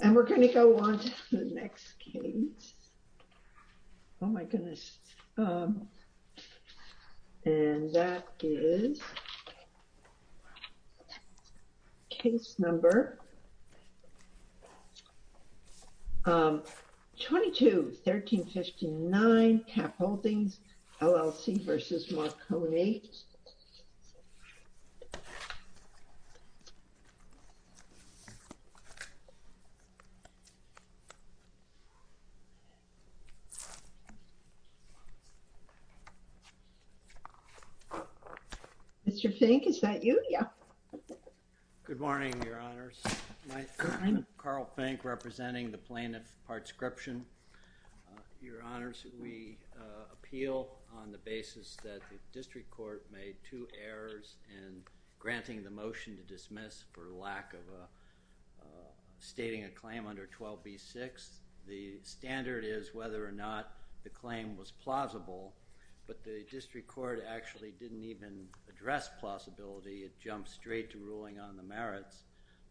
And we're going to go on to the next case, oh my goodness, and that is case number 22-1359 KAP Holdings, LLC v. Mar-Cone. Mr. Fink, is that you? Yeah. Good morning, Your Honors. My name is Carl Fink, representing the Plaintiff Parts Scription. Your Honors, we appeal on the basis that the district court made two errors in granting the motion to dismiss for lack of stating a claim under 12b-6. The standard is whether or not the claim was plausible, but the district court actually didn't even address plausibility. It jumped straight to ruling on the merits.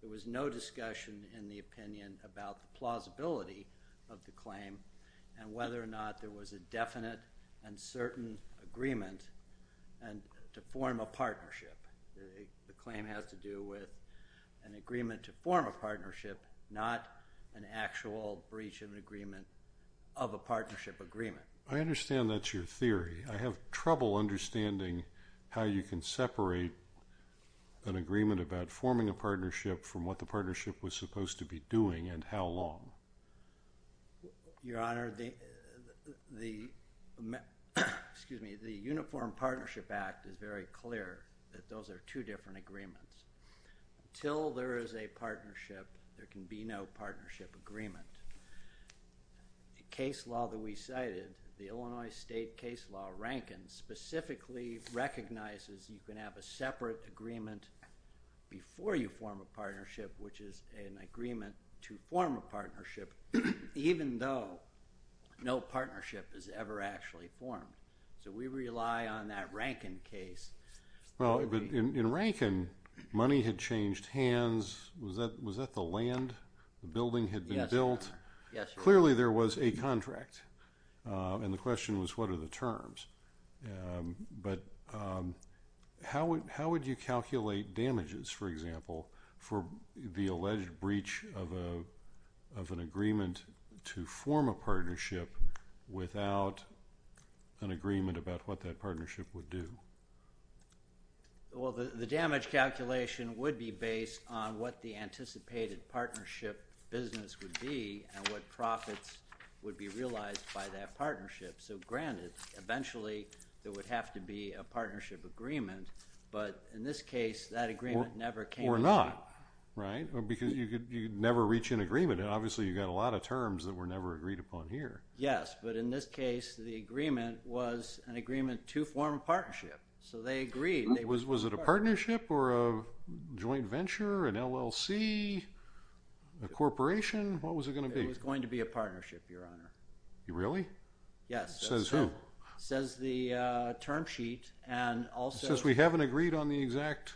There was no discussion in the opinion about the plausibility of the claim and whether or not there was a definite and certain agreement to form a partnership. The claim has to do with an agreement to form a partnership, not an actual breach of agreement of a partnership agreement. I understand that's your theory. I have trouble understanding how you can separate an agreement about forming a partnership from what the partnership was supposed to be doing and how long. Your Honor, the Uniform Partnership Act is very clear that those are two different agreements. Until there is a partnership, there can be no partnership agreement. The case law that we cited, the Illinois State case law, Rankin, specifically recognizes you can have a separate agreement before you form a partnership, which is an agreement to form a partnership, even though no partnership is ever actually formed. We rely on that Rankin case. In Rankin, money had changed hands. Was that the land the building had been built? Yes, Your Honor. Clearly there was a contract, and the question was what are the terms. How would you calculate damages, for example, for the alleged breach of an agreement to form a partnership without an agreement about what that partnership would do? The damage calculation would be based on what the anticipated partnership business would be and what profits would be realized by that partnership. Granted, eventually there would have to be a partnership agreement, but in this case that agreement never came to be. Or not, right? Because you could never reach an agreement, and obviously you've got a lot of terms that were never agreed upon here. Yes, but in this case the agreement was an agreement to form a partnership, so they agreed. Was it a partnership or a joint venture, an LLC, a corporation? What was it going to be? It was going to be a partnership, Your Honor. Really? Yes. Says who? Says the term sheet. It says we haven't agreed on the exact form.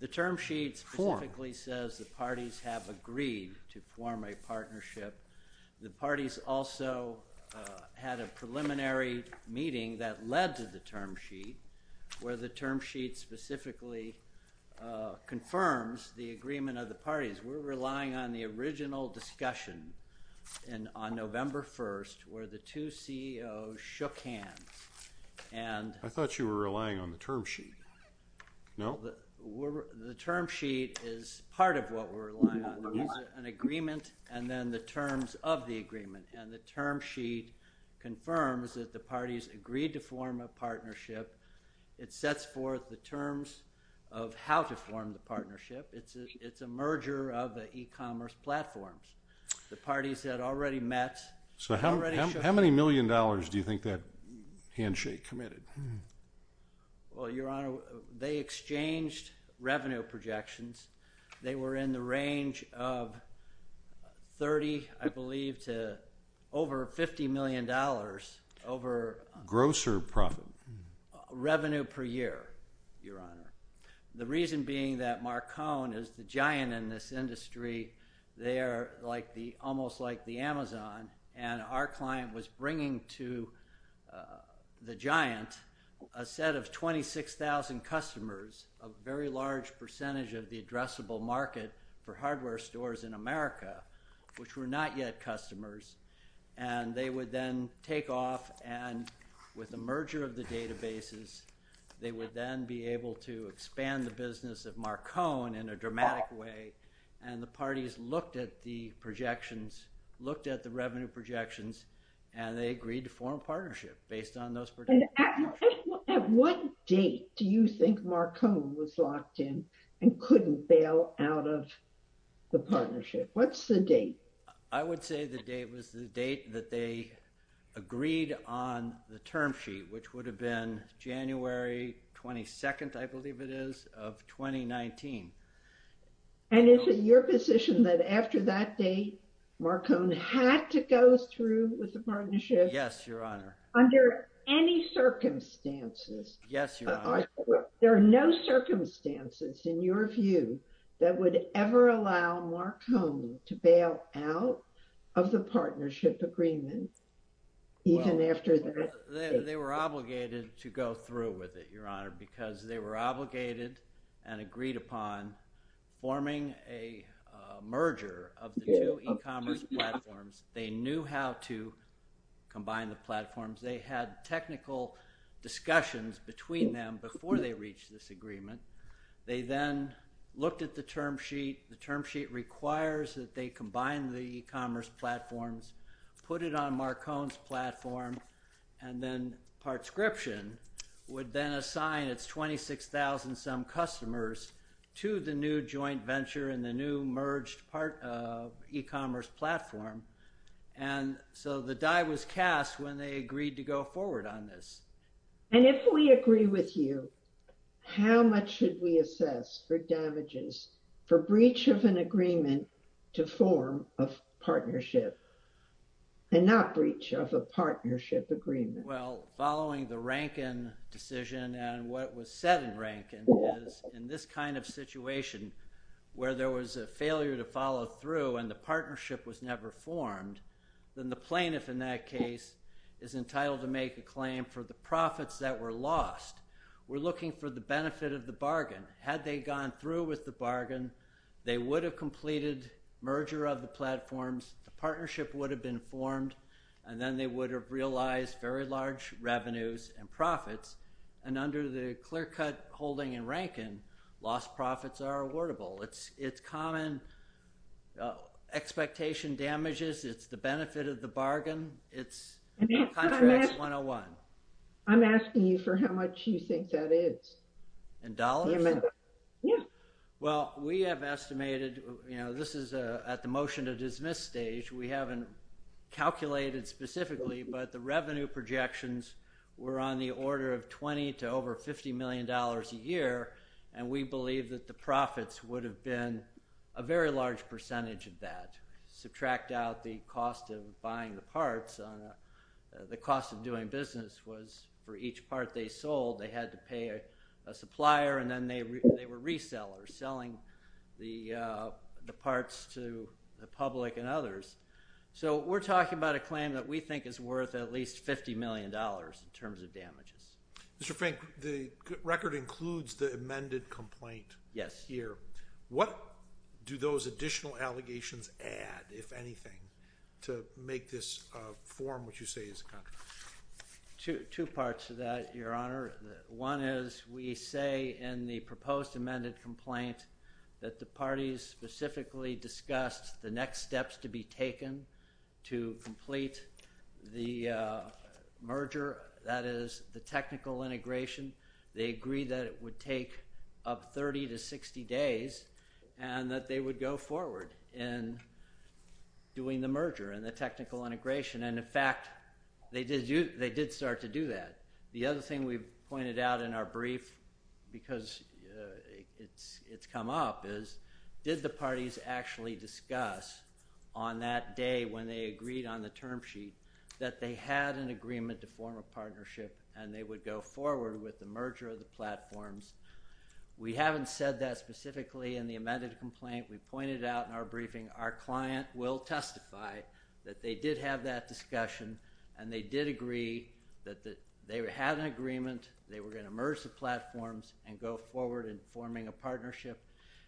The term sheet specifically says the parties have agreed to form a partnership. The parties also had a preliminary meeting that led to the term sheet where the term sheet specifically confirms the agreement of the parties. That means we're relying on the original discussion on November 1st where the two CEOs shook hands. I thought you were relying on the term sheet. No? The term sheet is part of what we're relying on. It's an agreement and then the terms of the agreement, and the term sheet confirms that the parties agreed to form a partnership. It's a merger of the e-commerce platforms. The parties had already met. How many million dollars do you think that handshake committed? Well, Your Honor, they exchanged revenue projections. They were in the range of 30, I believe, to over $50 million. Gross or profit? Revenue per year, Your Honor. The reason being that Marcon is the giant in this industry. They are almost like the Amazon, and our client was bringing to the giant a set of 26,000 customers, a very large percentage of the addressable market for hardware stores in America, which were not yet customers. They would then take off, and with the merger of the databases, they would then be able to expand the business of Marcon in a dramatic way. The parties looked at the projections, looked at the revenue projections, and they agreed to form a partnership based on those projections. At what date do you think Marcon was locked in and couldn't bail out of the partnership? What's the date? I would say the date was the date that they agreed on the term sheet, which would have been January 22nd, I believe it is, of 2019. And is it your position that after that date, Marcon had to go through with the partnership? Yes, Your Honor. Under any circumstances? Yes, Your Honor. There are no circumstances in your view that would ever allow Marcon to bail out of the partnership agreement even after that date. They were obligated to go through with it, Your Honor, because they were obligated and agreed upon forming a merger of the two e-commerce platforms. They knew how to combine the platforms. They had technical discussions between them before they reached this agreement. They then looked at the term sheet. The term sheet requires that they combine the e-commerce platforms, put it on Marcon's platform, and then Partscription would then assign its 26,000-some customers to the new joint venture and the new merged e-commerce platform. And so the die was cast when they agreed to go forward on this. And if we agree with you, how much should we assess for damages for breach of an agreement to form a partnership and not breach of a partnership agreement? Well, following the Rankin decision and what was said in Rankin is in this kind of situation, where there was a failure to follow through and the partnership was never formed, then the plaintiff in that case is entitled to make a claim for the profits that were lost. We're looking for the benefit of the bargain. Had they gone through with the bargain, they would have completed merger of the platforms, the partnership would have been formed, and then they would have realized very large revenues and profits. And under the clear-cut holding in Rankin, lost profits are awardable. It's common expectation damages. It's the benefit of the bargain. It's contracts 101. I'm asking you for how much you think that is. In dollars? Yeah. Well, we have estimated, you know, this is at the motion to dismiss stage. We haven't calculated specifically, but the revenue projections were on the order of $20 million to over $50 million a year, and we believe that the profits would have been a very large percentage of that. Subtract out the cost of buying the parts, the cost of doing business was for each part they sold, they had to pay a supplier, and then they were resellers, selling the parts to the public and others. So we're talking about a claim that we think is worth at least $50 million in terms of damages. Mr. Fink, the record includes the amended complaint here. Yes. What do those additional allegations add, if anything, to make this form what you say is a contract? Two parts to that, Your Honor. One is we say in the proposed amended complaint that the parties specifically discussed the next steps to be taken to complete the merger, that is, the technical integration. They agreed that it would take up 30 to 60 days and that they would go forward in doing the merger and the technical integration. And, in fact, they did start to do that. The other thing we've pointed out in our brief, because it's come up, is did the parties actually discuss on that day when they agreed on the term sheet that they had an agreement to form a partnership and they would go forward with the merger of the platforms? We haven't said that specifically in the amended complaint. I think we pointed out in our briefing our client will testify that they did have that discussion and they did agree that they had an agreement, they were going to merge the platforms, and go forward in forming a partnership.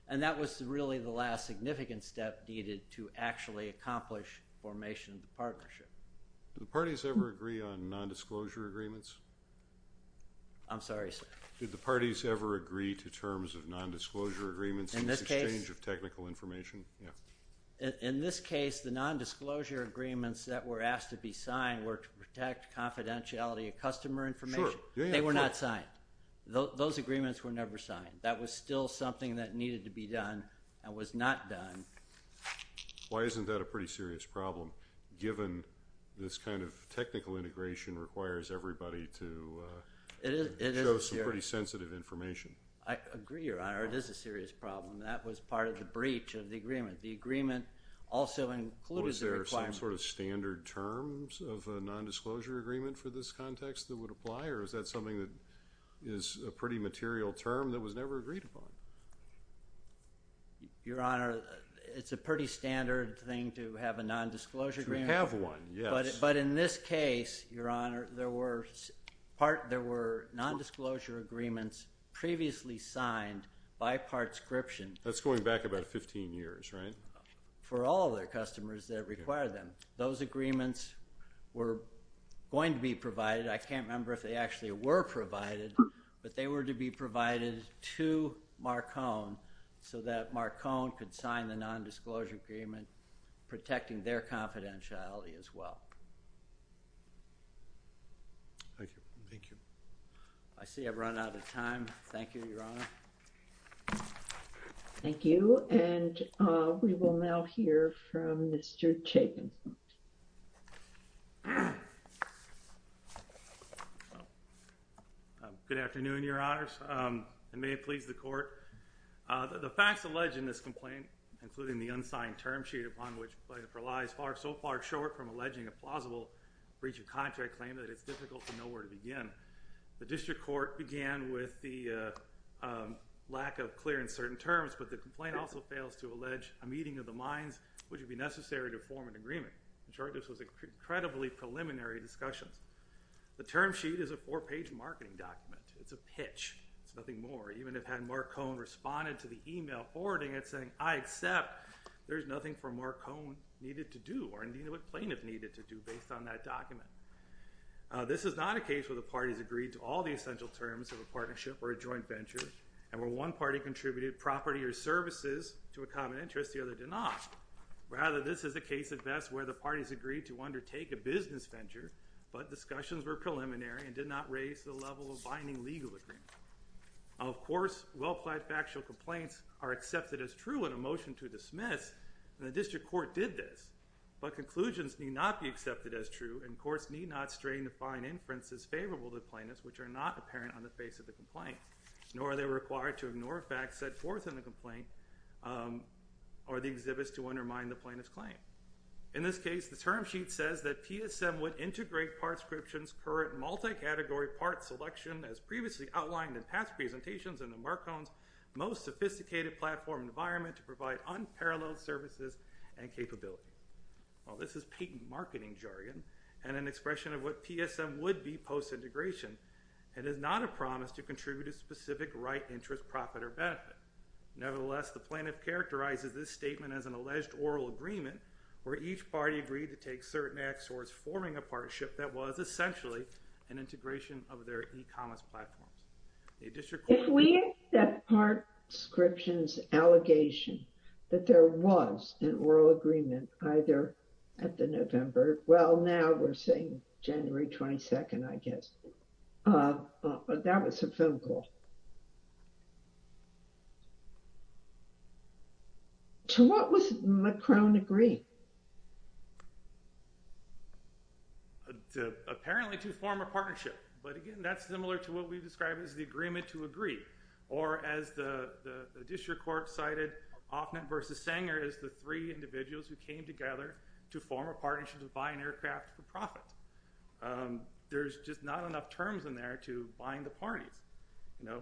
And that was really the last significant step needed to actually accomplish formation of the partnership. Did the parties ever agree on nondisclosure agreements? I'm sorry, sir. Did the parties ever agree to terms of nondisclosure agreements in exchange of technical information? In this case, the nondisclosure agreements that were asked to be signed were to protect confidentiality of customer information. Sure. They were not signed. Those agreements were never signed. That was still something that needed to be done and was not done. Why isn't that a pretty serious problem, given this kind of technical integration requires everybody to show some pretty sensitive information? I agree, Your Honor. It is a serious problem. That was part of the breach of the agreement. The agreement also included the requirements. Was there some sort of standard terms of a nondisclosure agreement for this context that would apply, or is that something that is a pretty material term that was never agreed upon? Your Honor, it's a pretty standard thing to have a nondisclosure agreement. To have one, yes. But in this case, Your Honor, there were nondisclosure agreements previously signed by Partscription. That's going back about 15 years, right? For all their customers that require them. Those agreements were going to be provided. I can't remember if they actually were provided, but they were to be provided to Marcon so that Marcon could sign the nondisclosure agreement protecting their confidentiality as well. I see I've run out of time. Thank you, Your Honor. Thank you, and we will now hear from Mr. Chapin. Good afternoon, Your Honors, and may it please the Court. The facts alleged in this complaint, including the unsigned term sheet upon which the complaint relies, are so far short from alleging a plausible breach of contract claim that it's difficult to know where to begin. The district court began with the lack of clear and certain terms, but the complaint also fails to allege a meeting of the minds which would be necessary to form an agreement. In short, this was an incredibly preliminary discussion. The term sheet is a four-page marketing document. It's a pitch. It's nothing more. Even if had Marcon responded to the email forwarding it saying, I accept there's nothing for Marcon needed to do, or indeed what plaintiff needed to do, based on that document. This is not a case where the parties agreed to all the essential terms of a partnership or a joint venture, and where one party contributed property or services to a common interest, the other did not. Rather, this is a case at best where the parties agreed to undertake a business venture, but discussions were preliminary and did not raise the level of binding legal agreement. Of course, well-planned factual complaints are accepted as true in a motion to dismiss, and the district court did this, but conclusions need not be accepted as true and courts need not strain to find inferences favorable to plaintiffs, which are not apparent on the face of the complaint, nor are they required to ignore facts set forth in the complaint or the exhibits to undermine the plaintiff's claim. In this case, the term sheet says that PSM would integrate Partscription's current multi-category part selection, as previously outlined in past presentations, into Marcon's most sophisticated platform environment to provide unparalleled services and capability. While this is patent marketing jargon and an expression of what PSM would be post-integration, it is not a promise to contribute a specific right, interest, profit, or benefit. Nevertheless, the plaintiff characterizes this statement as an alleged oral agreement where each party agreed to take certain acts towards forming a partnership that was, essentially, an integration of their e-commerce platform. If we accept Partscription's allegation that there was an oral agreement either at the November, well, now we're saying January 22nd, I guess. That was a phone call. To what was Marcon agreed? Apparently, to form a partnership. But, again, that's similar to what we described as the agreement to agree. Or, as the district court cited, Hoffman versus Sanger is the three individuals who came together to form a partnership to buy an aircraft for profit. There's just not enough terms in there to bind the parties. No?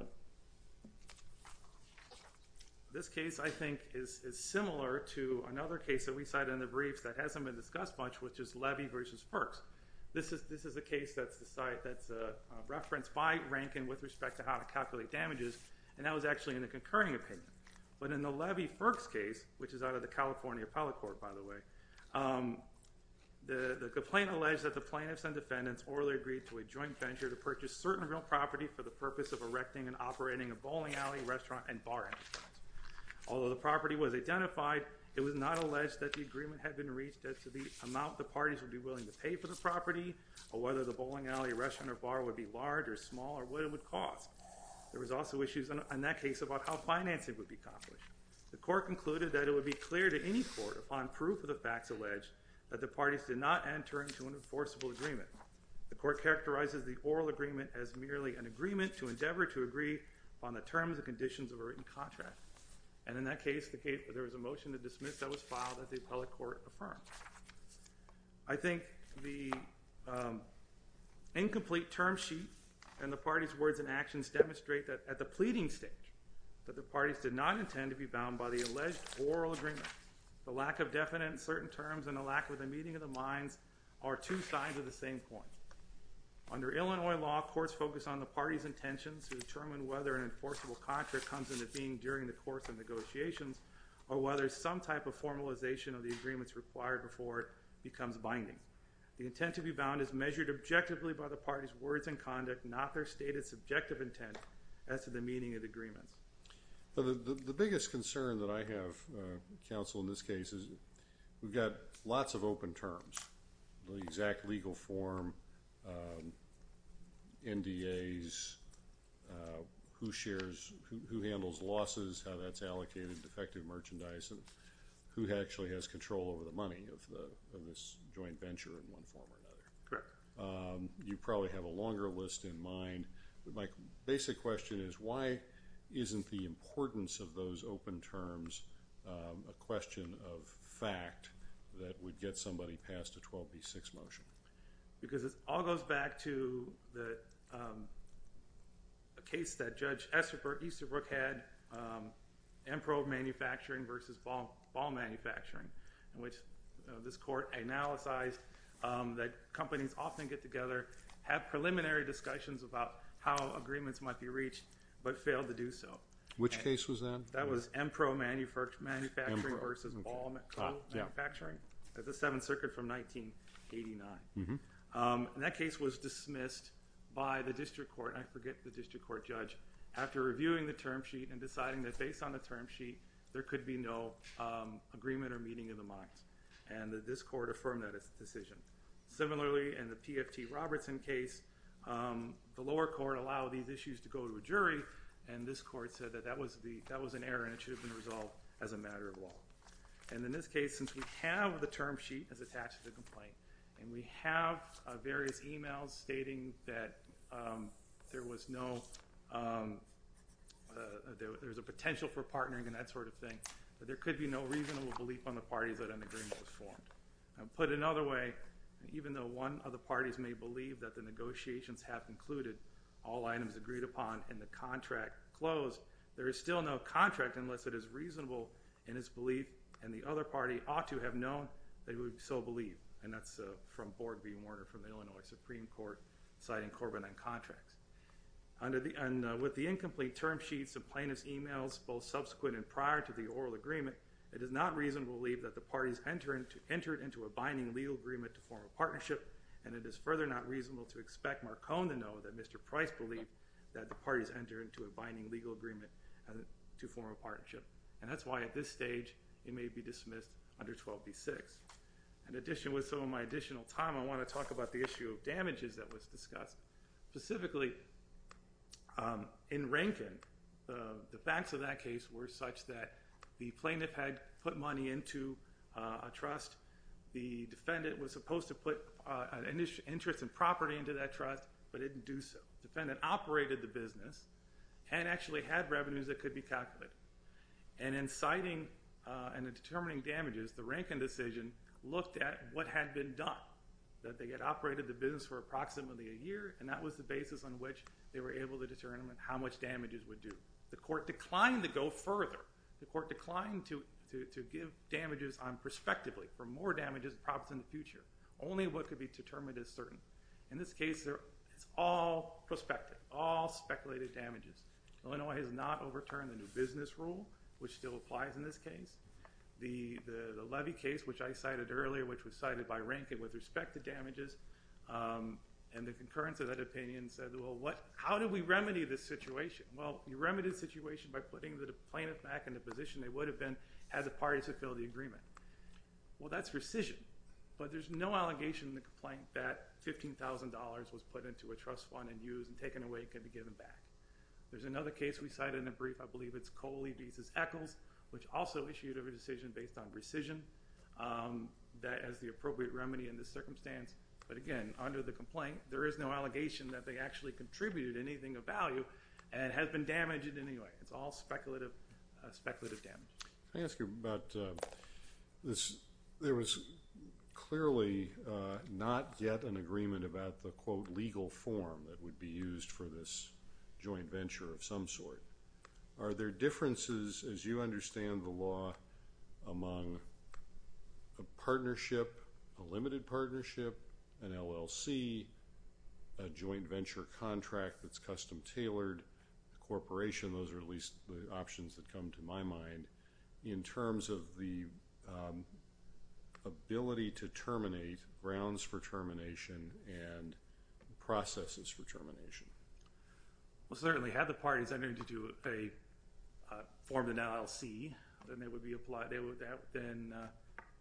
This case, I think, is similar to another case that we cited in the briefs that hasn't been discussed much, which is Levy versus Firks. This is a case that's referenced by Rankin with respect to how to calculate damages, and that was actually in the concurring opinion. But in the Levy-Firks case, which is out of the California Appellate Court, by the way, the complaint alleged that the plaintiffs and defendants orally agreed to a joint venture to purchase certain real property for the purpose of erecting and operating a bowling alley, restaurant, and bar. Although the property was identified, it was not alleged that the agreement had been reached as to the amount the parties would be willing to pay for the property or whether the bowling alley, restaurant, or bar would be large or small or what it would cost. There was also issues in that case about how financing would be accomplished. The court concluded that it would be clear to any court, upon proof of the facts alleged, that the parties did not enter into an enforceable agreement. The court characterizes the oral agreement as merely an agreement to endeavor to agree on the terms and conditions of a written contract. And in that case, there was a motion to dismiss that was filed as the Appellate Court affirmed. I think the incomplete term sheet and the parties' words and actions demonstrate that at the pleading stage, that the parties did not intend to be bound by the alleged oral agreement. The lack of definite in certain terms and the lack of the meeting of the minds are two sides of the same coin. Under Illinois law, courts focus on the parties' intentions to determine whether an enforceable contract comes into being during the course of negotiations or whether some type of formalization of the agreement is required before it becomes binding. The intent to be bound is measured objectively by the parties' words and conduct, not their stated subjective intent as to the meaning of the agreement. The biggest concern that I have, counsel, in this case is we've got lots of open terms, the exact legal form, NDAs, who shares, who handles losses, how that's allocated, defective merchandise and who actually has control over the money of this joint venture in one form or another. You probably have a longer list in mind. My basic question is why isn't the importance of those open terms a question of fact that would get somebody passed a 12B6 motion? Because it all goes back to the case that Judge Easterbrook had, MPRO manufacturing versus Ball manufacturing, which this court analyzed that companies often get together, have preliminary discussions about how agreements might be reached but fail to do so. Which case was that? That was MPRO manufacturing versus Ball manufacturing at the Seventh Circuit from 1989. And that case was dismissed by the district court, I forget the district court judge, after reviewing the term sheet and deciding that based on the term sheet there could be no agreement or meeting of the minds. And that this court affirmed that decision. Similarly, in the PFT Robertson case, the lower court allowed these issues to go to a jury and this court said that that was an error and it should have been resolved as a matter of law. And in this case, since we have the term sheet that's attached to the complaint and we have various emails stating that there was no, there's a potential for partnering and that sort of thing, but there could be no reasonable belief on the parties that an agreement was formed. Put another way, even though one of the parties may believe that the negotiations have included all items agreed upon and the contract closed, there is still no contract unless it is reasonable in its belief and the other party ought to have known they would so believe. And that's from Board v. Warner from Illinois Supreme Court, citing Corbin on contract. And with the incomplete term sheets and plaintiff's emails, both subsequent and prior to the oral agreement, it is not reasonable to believe that the parties entered into a binding legal agreement to form a partnership and it is further not reasonable to expect Marcon to know that Mr. Price believed that the parties entered into a binding legal agreement to form a partnership. And that's why at this stage it may be dismissed under 12 v. 6. In addition, with some of my additional time, I want to talk about the issue of damages that was discussed. Specifically, in Rankin, the facts of that case were such that the plaintiff had put money into a trust. The defendant was supposed to put an interest in property into that trust but didn't do so. The defendant operated the business and actually had revenues that could be calculated. And in citing and in determining damages, the Rankin decision looked at what had been done, that they had operated the business for approximately a year, and that was the basis on which they were able to determine how much damages would do. The court declined to go further. The court declined to give damages on prospectively, for more damages and props in the future, only what could be determined as certain. In this case, it's all prospective, all speculated damages. Illinois has not overturned the new business rule, which still applies in this case. The Levy case, which I cited earlier, which was cited by Rankin with respect to damages, and the concurrence of that opinion said, well, how do we remedy this situation? Well, you remedy the situation by putting the plaintiff back in a position they would have been as a party to fill the agreement. Well, that's rescission, but there's no allegation in the complaint that $15,000 was put into a trust fund and used and taken away and couldn't be given back. There's another case we cited in the brief. I believe it's Coley v. Eccles, which also issued a decision based on rescission that has the appropriate remedy in this circumstance. But again, under the complaint, there is no allegation that they actually contributed anything of value and it has been damaged in any way. It's all speculative damage. Let me ask you about this. There was clearly not yet an agreement about the, quote, legal form that would be used for this joint venture of some sort. Are there differences, as you understand the law, among a partnership, a limited partnership, an LLC, a joint venture contract that's custom-tailored, a corporation, those are at least the options that come to my mind, in terms of the ability to terminate grounds for termination and processes for termination? Well, certainly, had the parties, I mean, if they formed an LLC, then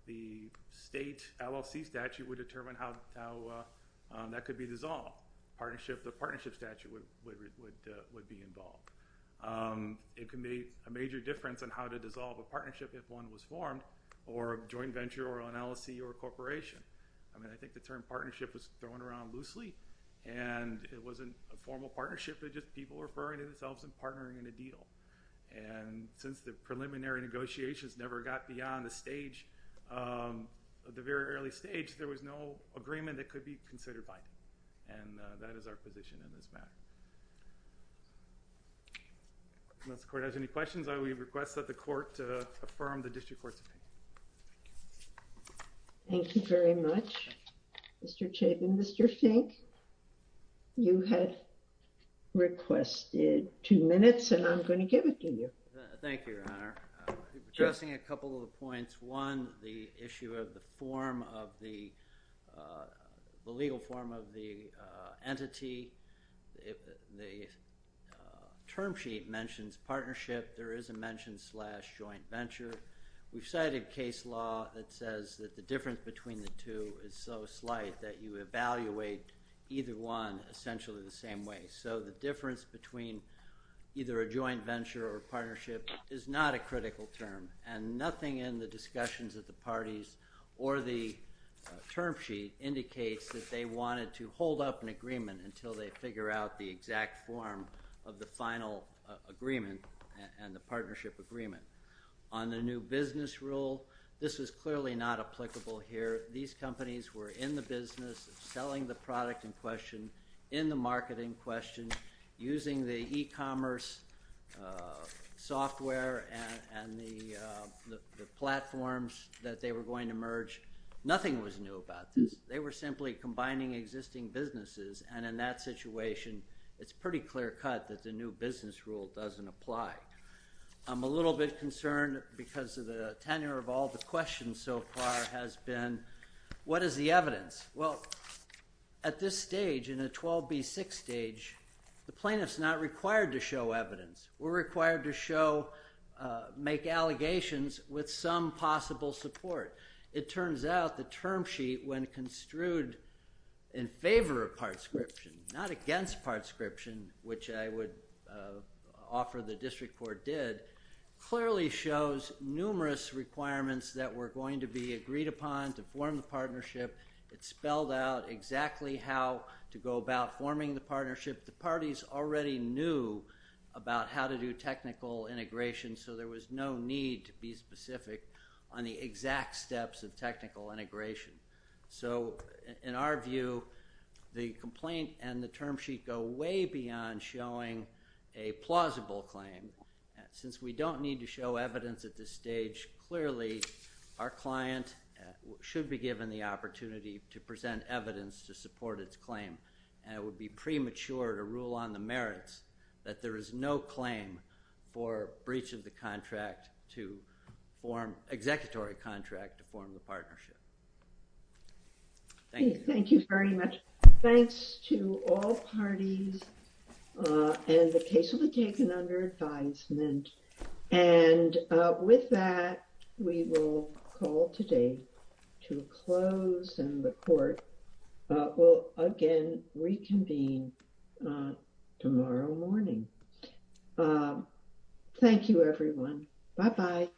the state LLC statute would determine how that could be dissolved. The partnership statute would be involved. It could make a major difference on how to dissolve a partnership if one was formed, or a joint venture, or an LLC, or a corporation. I mean, I think the term partnership was thrown around loosely, and it wasn't a formal partnership, it was just people referring to themselves and partnering in a deal. And since the preliminary negotiations never got beyond the stage, the very early stage, there was no agreement that could be considered binding. And that is our position in this matter. Unless the court has any questions, I will request that the court affirm the district court's opinion. Thank you very much, Mr. Chaik and Mr. Fink. You had requested two minutes, and I'm going to give it to you. Thank you, Your Honor. Addressing a couple of points. One, the issue of the legal form of the entity. The term sheet mentions partnership. There is a mention slash joint venture. We've cited case law that says that the difference between the two is so slight that you evaluate either one essentially the same way. So the difference between either a joint venture or partnership is not a critical term. And nothing in the discussions of the parties or the term sheet indicates that they wanted to hold up an agreement until they figure out the exact form of the final agreement and the partnership agreement. On the new business rule, this is clearly not applicable here. These companies were in the business of selling the product in question, in the marketing question, using the e-commerce software and the platforms that they were going to merge. Nothing was new about this. They were simply combining existing businesses. And in that situation, it's pretty clear-cut that the new business rule doesn't apply. I'm a little bit concerned because the tenure of all the questions so far has been, what is the evidence? Well, at this stage, in a 12B6 stage, the plaintiff's not required to show evidence. We're required to show, make allegations with some possible support. It turns out the term sheet, when construed in favor of partscription, not against partscription, which I would offer the district court did, clearly shows numerous requirements that were going to be agreed upon to form the partnership. It spelled out exactly how to go about forming the partnership. The parties already knew about how to do technical integration, so there was no need to be specific on the exact steps of technical integration. So in our view, the complaint and the term sheet go way beyond showing a plausible claim. Since we don't need to show evidence at this stage, clearly our client should be given the opportunity to present evidence to support its claim. And it would be premature to rule on the merits that there is no claim for breach of the contract to form executive contract to form the partnership. Thank you. Thank you very much. Thanks to all parties. And the case will be taken under advisement. And with that, we will call today to close, and the court will again reconvene tomorrow morning. Thank you, everyone. Bye-bye.